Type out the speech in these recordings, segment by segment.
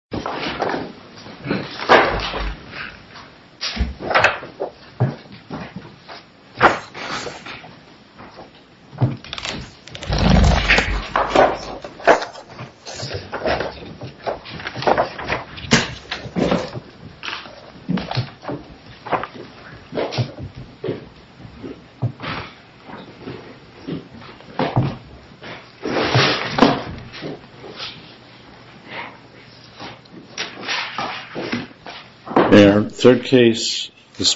This is a video of the AT&T Intellectual Property II a better place for you to work. please leave a comment below. I will be happy to answer them. I hope you enjoyed this video It was a little save. We have our third case this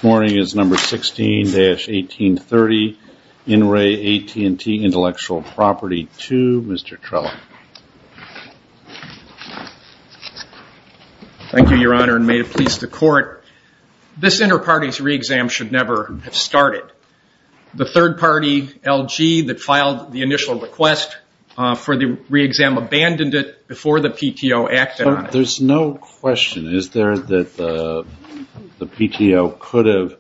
morning. This is number 16-1830. In Re AT&T Intellectual Property II Thank you, Your Honor. The court is pleased. To these parties. They could have abandoned it before the PTO acted on it. There's no question. Is there that the PTO could have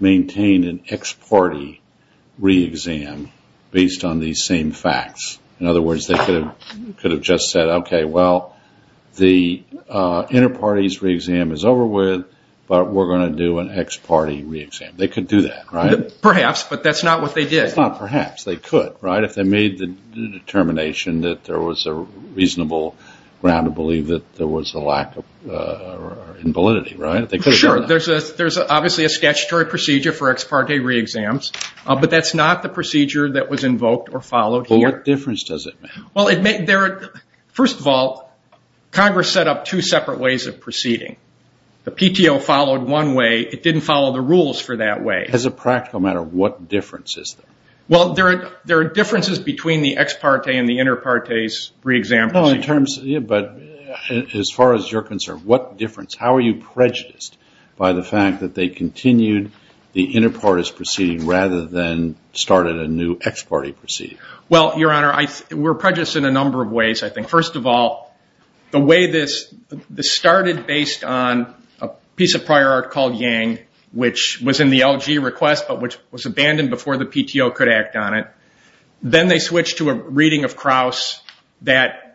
maintained an ex-party re-exam based on these same facts? In other words, they could have just said, OK, well, the inter-parties re-exam is over with, but we're going to do an ex-party re-exam. They could do that, right? Perhaps, but that's not what they did. It's not perhaps. They could, right? If they made the determination that there was a reasonable ground to believe that there was a lack of validity, right? Sure. There's obviously a statutory procedure for ex-party re-exams, but that's not the procedure that was invoked or followed here. What difference does it make? First of all, Congress set up two separate ways of proceeding. The PTO followed one way. It didn't follow the rules for that way. As a practical matter, what difference is there? There are differences between the ex-party and the inter-parties re-exam proceedings. As far as you're concerned, what difference? How are you prejudiced by the fact that they continued the inter-parties proceeding rather than started a new ex-party proceeding? We're prejudiced in a number of ways. First of all, the way this started based on a piece of prior art called Yang, which was in the LG request, but which was abandoned before the PTO could act on it. Then they switched to a reading of Kraus that...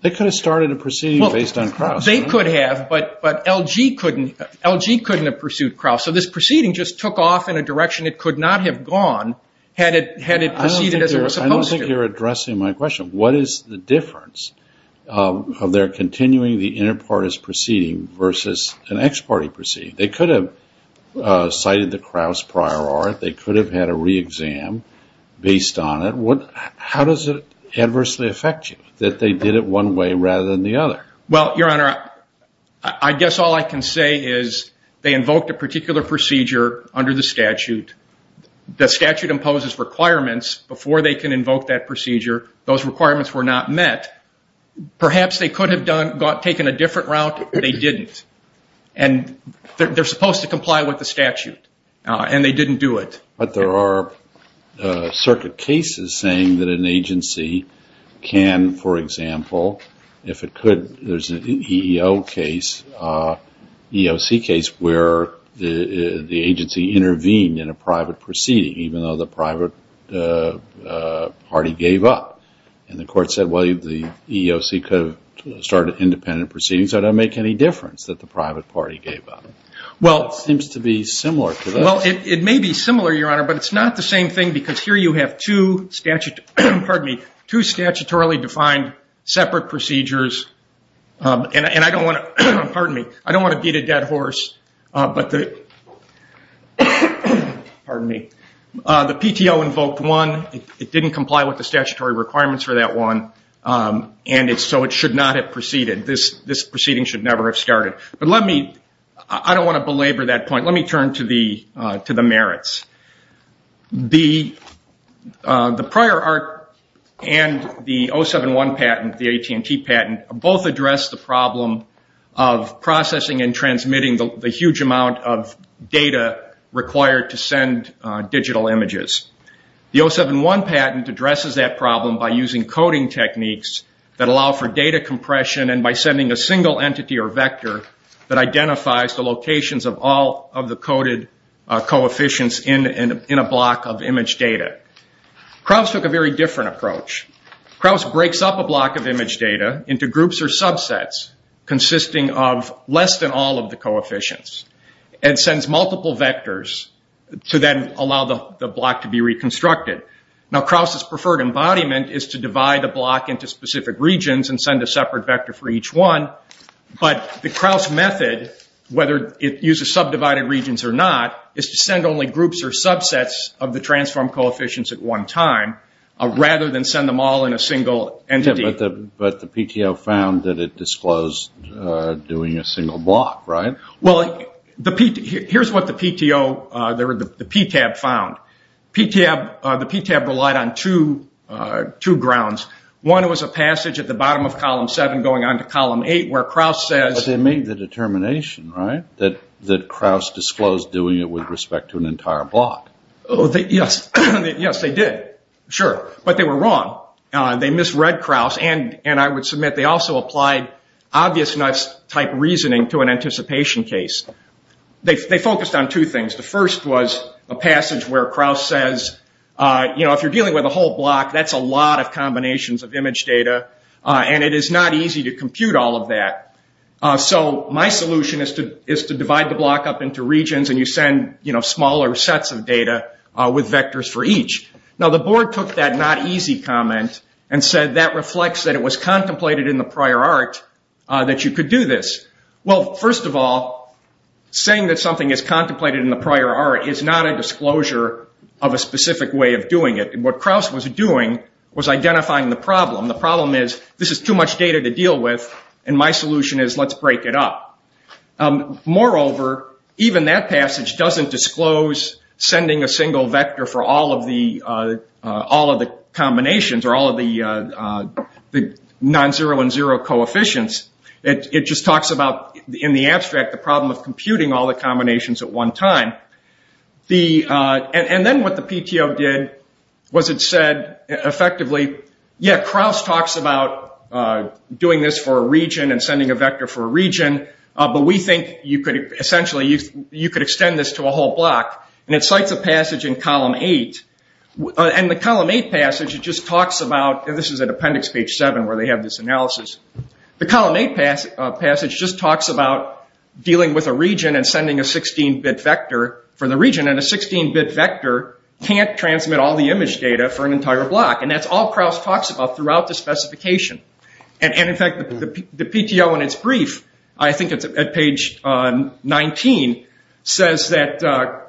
They could have started a proceeding based on Kraus. They could have, but LG couldn't have pursued Kraus, so this proceeding just took off in a direction it could not have gone had it proceeded as it was supposed to. I don't think you're addressing my question. What is the difference of their continuing the inter-parties proceeding versus an ex-party proceeding? They could have made the Kraus prior art. They could have had a re-exam based on it. How does it adversely affect you that they did it one way rather than the other? Well, Your Honor, I guess all I can say is they invoked a particular procedure under the statute. The statute imposes requirements before they can invoke that procedure. Those requirements were not met. Perhaps they could have taken a different route. They didn't. They're supposed to comply with the statute, and they didn't do it. But there are circuit cases saying that an agency can, for example, if it could, there's an EEO case, EEOC case, where the agency intervened in a private proceeding, even though the private party gave up. And the court said, well, the EEOC could have started independent proceedings, so it doesn't make any difference that the private party gave up. It seems to be similar to this. It may be similar, Your Honor, but it's not the same thing because here you have two statutorily defined separate procedures and I don't want to beat a dead horse, but the PTO invoked one. It didn't comply with the statutory requirements for that one, and so it should not have proceeded. This proceeding should never have started. But let me, I don't want to belabor that point. Let me turn to the merits. The prior art and the 071 patent, the AT&T patent, both address the problem of processing and transmitting the huge amount of data required to send digital images. The 071 patent addresses that problem by using coding techniques that allow for data compression and by sending a single entity or vector that identifies the locations of all of the coded coefficients in a block of image data. Krauss took a very different approach. Krauss breaks up a block of image data into groups or subsets consisting of less than all of the coefficients and sends multiple vectors to then allow the block to be reconstructed. Now Krauss's preferred embodiment is to divide a block into specific regions and send a separate vector for each one, but the Krauss method, whether it uses subdivided regions or not, is to send only groups or subsets of the transformed coefficients at one time rather than send them all in a single entity. But the PTO found that it disclosed doing a single block, right? Well, here's what the PTO, the PTAB found. The PTAB relied on two grounds. One was a passage at the bottom of column 7 going on to column 8 where Krauss says... But they made the determination that Krauss disclosed doing it with respect to an entire block. Yes, they did, sure. But they were wrong. They misread Krauss and I would submit they also applied obvious nuts type reasoning to an anticipation case. They focused on two things. The first was a passage where Krauss says, you know, if you're dealing with a whole block, that's a lot of combinations of image data and it is not easy to compute all of that. So my solution is to divide the block up into regions and you send smaller sets of data with vectors for each. Now the board took that not easy comment and said that reflects that it was contemplated in the prior art that you could do this. Well, first of all, saying that something is contemplated in the prior art is not a disclosure of a specific way of doing it. What Krauss was doing was identifying the problem. The problem is this is too much data to deal with and my solution is let's break it up. Moreover, even that passage doesn't disclose sending a single vector for all of the combinations or all of the non-zero and zero coefficients. It just talks about in the abstract the problem of computing all the combinations at one time. And then what the PTO did was it said effectively, yeah Krauss talks about doing this for a region and sending a vector for a region, but we think essentially you could extend this to a whole block. And it cites a passage in column 8. And the column 8 passage just talks about, and this is at appendix page 7 where they have this analysis. The column 8 passage just talks about dealing with a region and sending a 16-bit vector for the region and a 16-bit vector can't transmit all the image data for an entire block. And that's all Krauss talks about throughout the specification. And in fact, the PTO in its brief I think it's at page 19, says that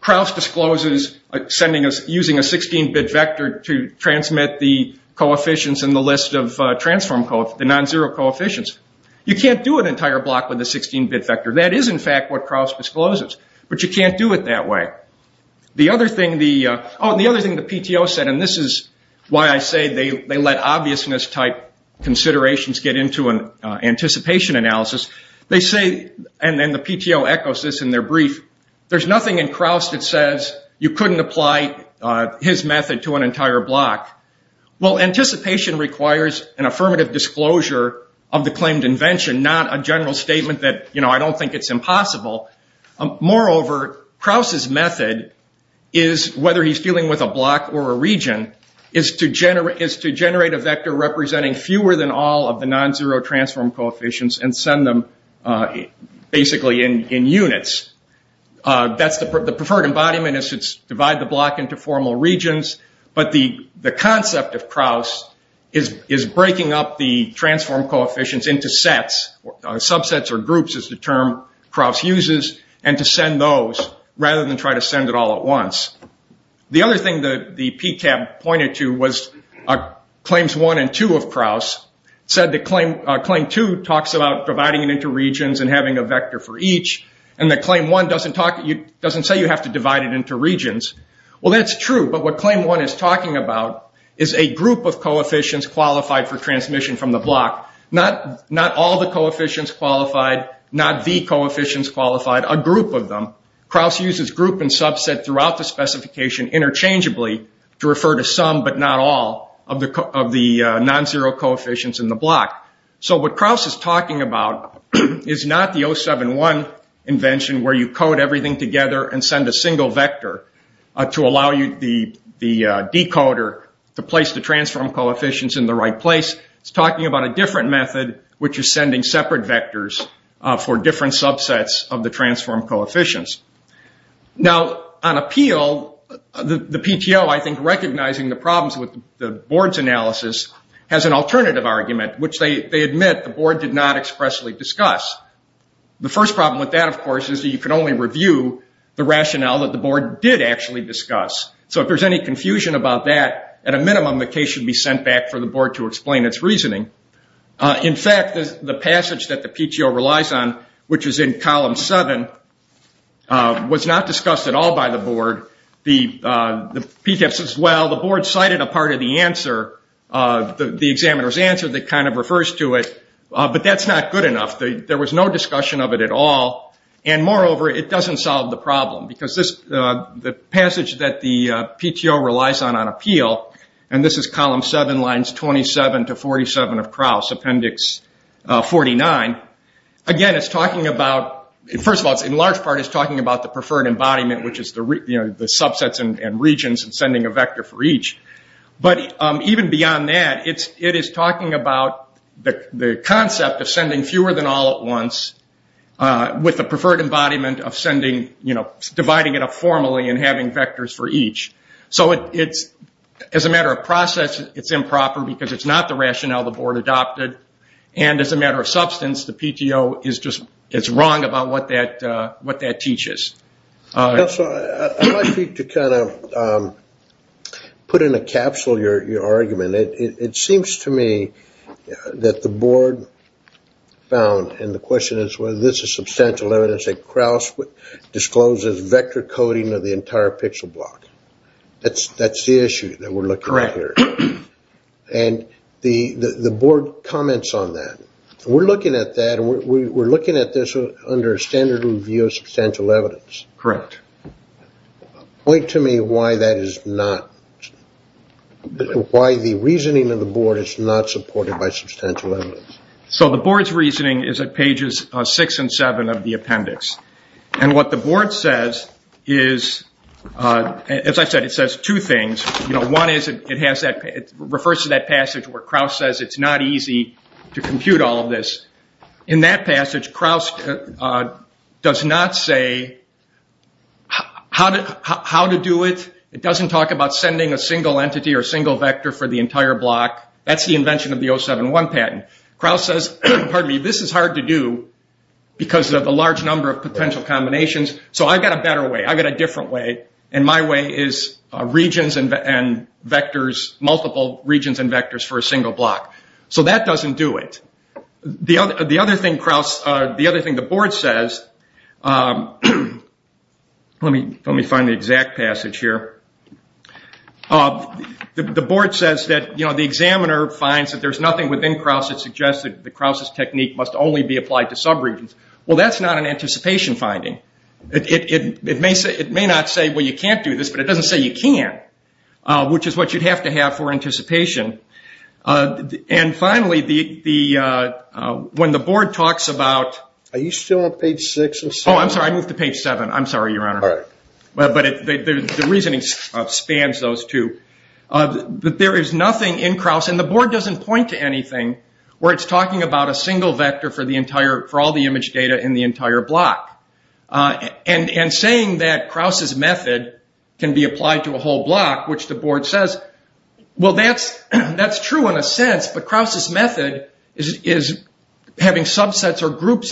Krauss discloses using a 16-bit vector to transmit the coefficients in the list of transform, the non-zero coefficients. You can't do an entire block with a 16-bit vector. That is in fact what Krauss discloses. But you can't do it that way. The other thing the PTO said, and this is why I say they let obviousness type considerations get into an anticipation analysis. They say, and then the PTO echoes this in their brief, there's nothing in Krauss that says you couldn't apply his method to an entire block. Well, anticipation requires an affirmative disclosure of the claimed invention, not a general statement that, you know, I don't think it's impossible. Moreover, Krauss' method is, whether he's dealing with a block or a region, is to generate a vector representing fewer than all of the non-zero transform coefficients and send them basically in units. That's the preferred embodiment in this. It's divide the block into formal regions. But the concept of Krauss is breaking up the transform coefficients into sets, subsets or groups is the term Krauss uses, and to send those rather than try to send it all at once. The other thing the PCAB pointed to was claims 1 and 2 of Krauss said that claim 2 talks about dividing it into regions and having a vector for each, and that claim 1 doesn't say you have to divide it into regions. Well, that's true, but what claim 1 is talking about is a group of coefficients qualified for transmission from the block. Not all the coefficients qualified, not the coefficients qualified, a group of them. Krauss uses group and subset throughout the specification interchangeably to refer to some but not all of the non-zero coefficients in the block. So what Krauss is talking about is not the 071 invention where you code everything together and send a single vector to allow the decoder to place the transform coefficients in the right place. It's talking about a different method, which is sending separate vectors for different subsets of the transform coefficients. Now, on appeal, the PTO, I think, recognizing the problems with the board's analysis has an alternative argument, which they admit the board did not expressly discuss. The first problem with that, of course, is that you can only review the rationale that the board did actually discuss. So if there's any confusion about that, at a minimum, the case should be sent back for the board to explain its reasoning. In fact, the passage that the PTO relies on, which is in column 7, was not discussed at all by the board. The PTO says, well, the board cited a part of the answer, the examiner's answer that kind of refers to it, but that's not good enough. There was no discussion of it at all, and moreover, it doesn't solve the problem, because the passage that the PTO relies on on appeal, and this is column 7, lines 27 to 47 of Krauss, appendix 49. Again, it's talking about, first of all, in large part, it's talking about the preferred embodiment, which is the subsets and regions and sending a vector for each. But even beyond that, it is talking about the concept of sending fewer than all at once with the preferred embodiment of dividing it up formally and having vectors for each. As a matter of process, it's improper, because it's not the rationale the board adopted, and as a matter of substance, the PTO is wrong about what that teaches. I'd like you to put in a capsule your argument. It seems to me that the board found, and the question is whether this is substantial evidence that Krauss discloses vector coding of the entire pixel block. That's the issue that we're looking at here. And the board comments on that. We're looking at that, and we're looking at this under a standard review of substantial evidence. Point to me why that is not... Why the reasoning of the board is not supported by substantial evidence. So the board's reasoning is at pages 6 and 7 of the appendix. And what the board says is, as I said, it says two things. One is it refers to that passage where Krauss says it's not easy to compute all of this. In that passage, Krauss does not say how to send a single entity or single vector for the entire block. That's the invention of the 071 patent. Krauss says, this is hard to do because of the large number of potential combinations, so I've got a better way. I've got a different way. And my way is multiple regions and vectors for a single block. So that doesn't do it. The other thing the board says... Let me find the exact passage here. The board says that the examiner finds that there's nothing within Krauss that suggests that Krauss' technique must only be applied to subregions. Well, that's not an anticipation finding. It may not say, well, you can't do this, but it doesn't say you can't, which is what you'd have to have for anticipation. And finally, when the board talks about... Are you still on page 6? Oh, I'm sorry, I moved to page 7. The reasoning spans those two. There is nothing in Krauss, and the board doesn't point to anything where it's talking about a single vector for all the image data in the entire block. And saying that Krauss' method can be applied to a whole block, which the board says, well, that's true in a sense, but Krauss' method is having subsets or subsets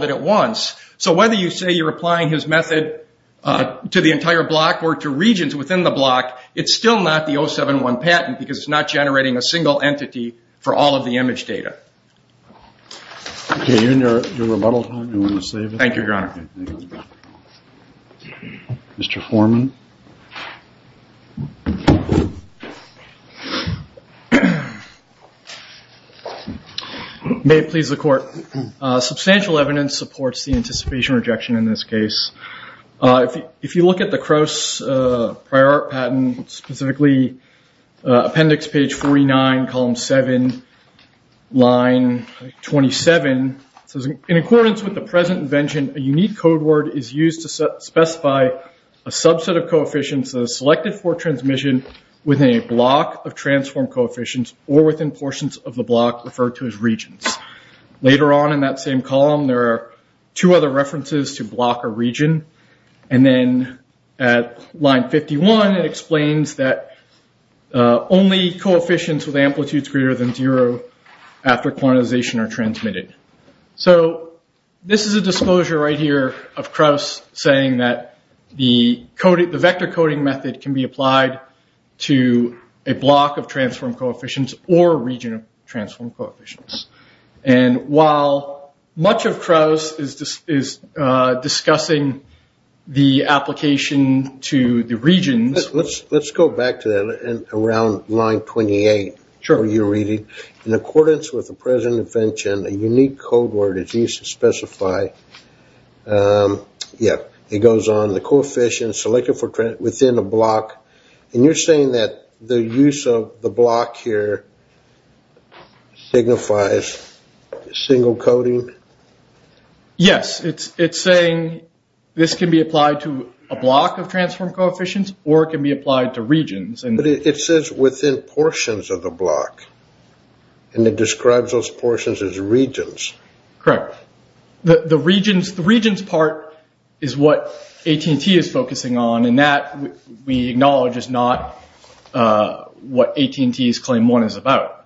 within the block. So whether you say you're applying his method to the entire block or to regions within the block, it's still not the 071 patent because it's not generating a single entity for all of the image data. Okay, you're in your rebuttal time. Thank you, Your Honor. Mr. Foreman? May it please the court. Substantial evidence supports the anticipation rejection in this case. If you look at the Krauss prior art patent, specifically appendix page 49, column 7, line 27, in accordance with the present invention, a unique code word is used to specify a subset of coefficients selected for transmission within a block of transformed coefficients or within portions of the block referred to as regions. Later on in that same column, there are two other references to block or region and then at line 51, it explains that only after quantization are transmitted. This is a disclosure right here of Krauss saying that the vector coding method can be applied to a block of transformed coefficients or a region of transformed coefficients. And while much of Krauss is discussing the application to the regions... Let's go back to that around line 28, where you're reading in accordance with the present invention, a unique code word is used to specify a subset of coefficients selected for within a block. And you're saying that the use of the block here signifies single coding? Yes, it's saying this can be applied to a block of transformed coefficients or it can be applied to regions. But it says within portions of the block and it describes those portions as regions. Correct. The regions part is what AT&T is focusing on and that we acknowledge is not what AT&T's Claim 1 is about.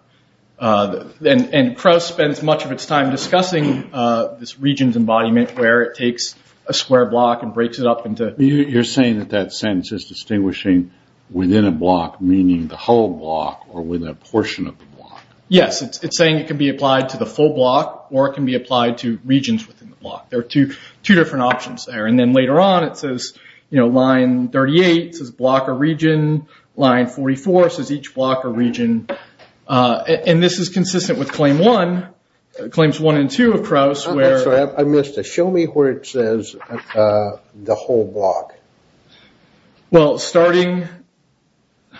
And Krauss spends much of its time discussing this regions embodiment where it takes a square block and breaks it up into... You're saying that that sentence is distinguishing within a block meaning the whole block or within a portion of the block. Yes, it's saying it can be applied to the full block or it can be applied to regions within the block. There are two different options there. And then later on it says line 38 says block or region. Line 44 says each block or region. And this is consistent with Claim 1. Claims 1 and 2 of Krauss where... I'm sorry, I missed it. Show me where it says the whole block. Well, starting I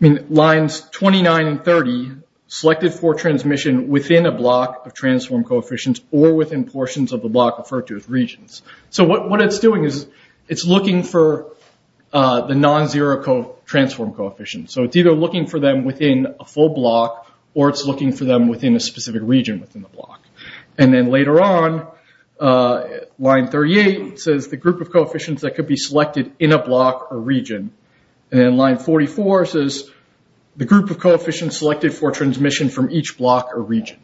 mean lines 29 and 30 selected for transmission within a block of transform coefficients or within portions of the block referred to as regions. So what it's doing is it's looking for the non-zero transform coefficients. So it's either looking for them within a full block or it's looking for them within a specific region within the block. And then later on line 38 says the group of coefficients that could be within a block or region. And line 44 says the group of coefficients selected for transmission from each block or region.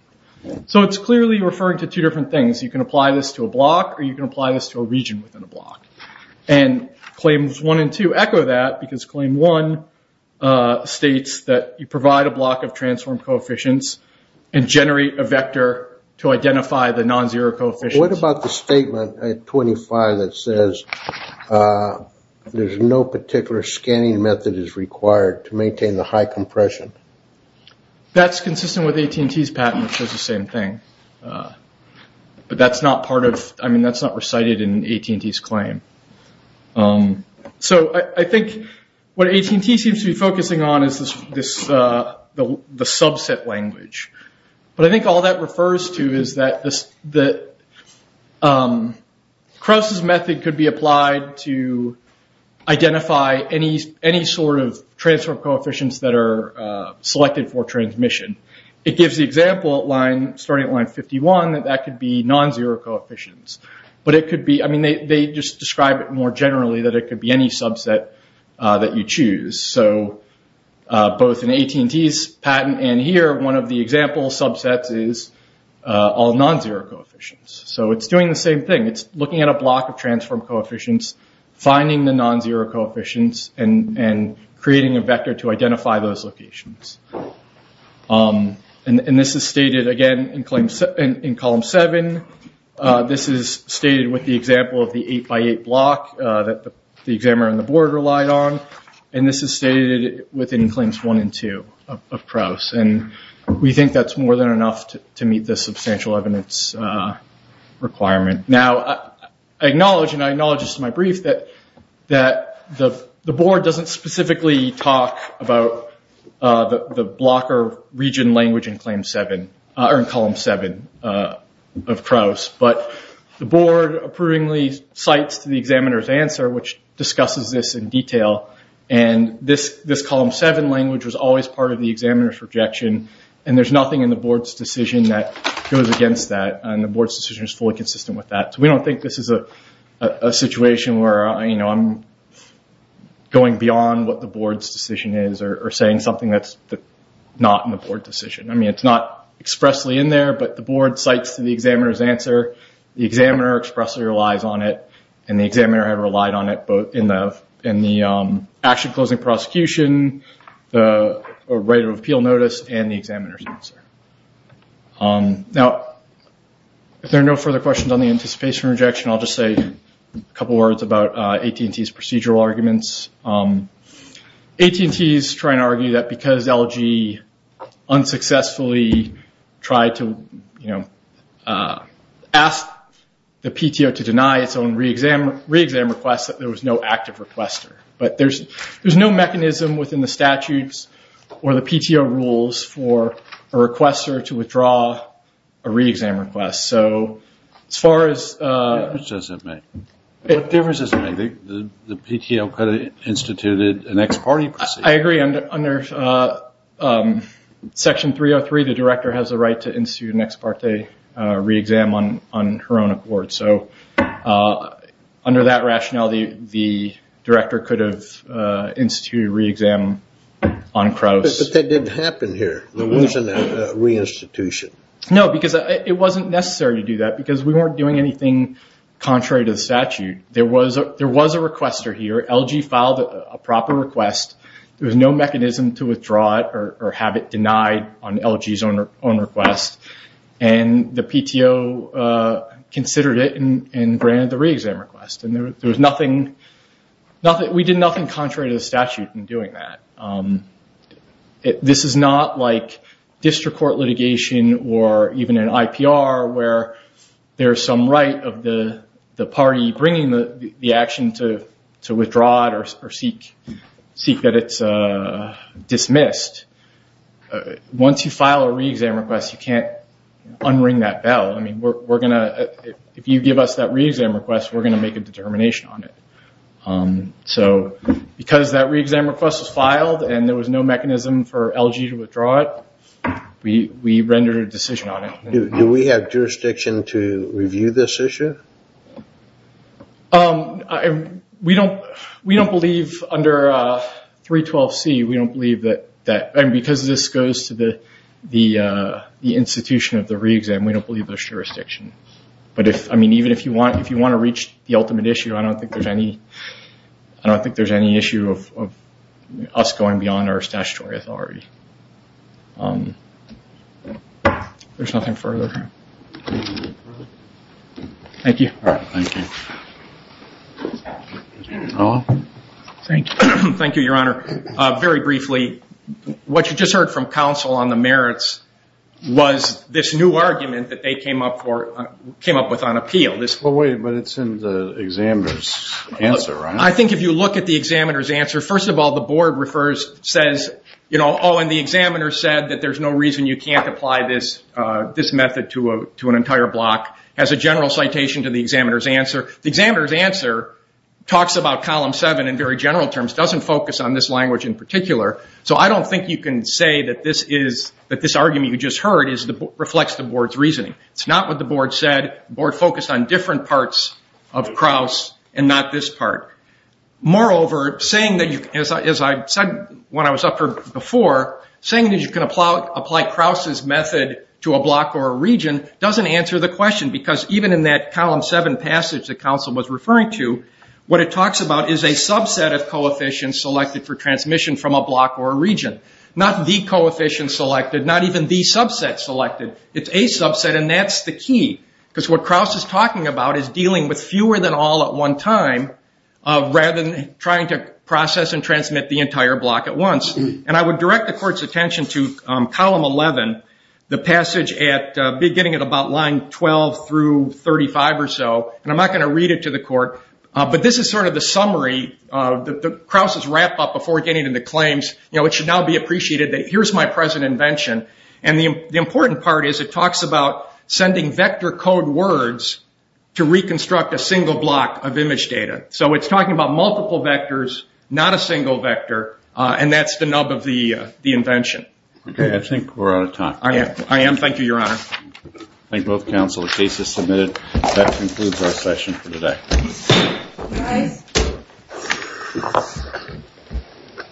So it's clearly referring to two different things. You can apply this to a block or you can apply this to a region within a block. And Claims 1 and 2 echo that because Claim 1 states that you provide a block of transform coefficients and generate a vector to identify the non-zero coefficients. What about the statement at 25 that says there's no particular scanning method is required to maintain the high compression? That's consistent with AT&T's patent which says the same thing. But that's not part of, I mean that's not recited in AT&T's claim. So I think what AT&T seems to be focusing on is the subset language. But I think all that refers to is that Crouse's method could be applied to identify any sort of transform coefficients that are selected for transmission. It gives the example starting at line 51 that that could be non-zero coefficients. But it could be, I mean they just describe it more generally that it could be any subset that you choose. So both in AT&T's patent and here, one of the example subsets is all non-zero coefficients. So it's doing the same thing. It's looking at a block of transform coefficients, finding the non-zero coefficients and creating a vector to identify those locations. And this is stated again in column 7. This is stated with the example of the 8x8 block that the examiner and the board relied on. And this is stated within claims 1 and 2 of Crouse. And we think that's more than enough to meet the substantial evidence requirement. Now I acknowledge, and I acknowledge this in my brief, that the board doesn't specifically talk about the blocker region language in column 7 of Crouse. But the board approvingly cites the examiner's answer which discusses this in detail. And this column 7 language was always part of the examiner's projection. And there's nothing in the board's decision that goes against that. And the board's decision is fully consistent with that. So we don't think this is a situation where I'm going beyond what the board's decision is or saying something that's not in the board decision. I mean, it's not expressly in there, but the board cites the examiner's answer. The examiner expressly relies on it. And the examiner had relied on it both in the action closing prosecution, the right of appeal notice, and the examiner's answer. Now if there are no further questions on the anticipation rejection, I'll just say a couple words about AT&T's procedural arguments. AT&T is trying to argue that because LG unsuccessfully tried to ask the PTO to deny its own re-exam request, that there was no active requester. But there's no mechanism within the statutes or the PTO rules for a requester to withdraw a re-exam request. So as far as... What difference does it make? The PTO could have instituted an ex parte procedure. I agree. Under Section 303, the director has the right to institute an ex parte re-exam on her own accord. So for that rationality, the director could have instituted a re-exam on Crouse. But that didn't happen here. There wasn't a re-institution. No, because it wasn't necessary to do that because we weren't doing anything contrary to the statute. There was a requester here. LG filed a proper request. There was no mechanism to withdraw it or have it denied on LG's own request. And the PTO considered it and granted the re-exam request. There was nothing... We did nothing contrary to the statute in doing that. This is not like district court litigation or even an IPR where there's some right of the party bringing the action to withdraw it or seek that it's dismissed. Once you file a re-exam request, you can't unring that bell. If you give us that re-exam request, we're going to make a determination on it. Because that re-exam request was filed and there was no mechanism for LG to withdraw it, we rendered a decision on it. Do we have jurisdiction to review this issue? We don't believe under 312C, we don't believe that... Because this goes to the institution of the re-exam, we don't believe there's jurisdiction. Even if you want to reach the ultimate issue, I don't think there's any issue of us going beyond our statutory authority. There's nothing further. Thank you. Thank you, Your Honor. Very briefly, what you just heard from was this new argument that they came up with on appeal. Wait, but it's in the examiner's answer, right? I think if you look at the examiner's answer, first of all, the board says, the examiner said that there's no reason you can't apply this method to an entire block. It has a general citation to the examiner's answer. The examiner's answer talks about Column 7 in very general terms. It doesn't focus on this language in particular. I don't think you can say that this argument you just heard reflects the board's reasoning. It's not what the board said. The board focused on different parts of Krauss and not this part. Moreover, saying that, as I said when I was up here before, saying that you can apply Krauss' method to a block or a region doesn't answer the question because even in that Column 7 passage that counsel was referring to, what it talks about is a subset of coefficients selected for transmission from a block or a region. Not the coefficients selected, not even the subset selected. It's a subset and that's the key because what Krauss is talking about is dealing with fewer than all at one time rather than trying to process and transmit the entire block at once. And I would direct the court's attention to Column 11, the passage at beginning at about line 12 through 35 or so, and I'm not going to read it to the court, but this is sort of the summary that Krauss is wrapping up before getting into claims. It should now be appreciated that here's my present invention and the important part is it talks about sending vector code words to reconstruct a single block of image data. So it's talking about multiple vectors, not a single vector, and that's the nub of the invention. Okay, I think we're out of time. I am. Thank you, Your Honor. I thank both counsel. The case is submitted. That concludes our session for today. Thank you.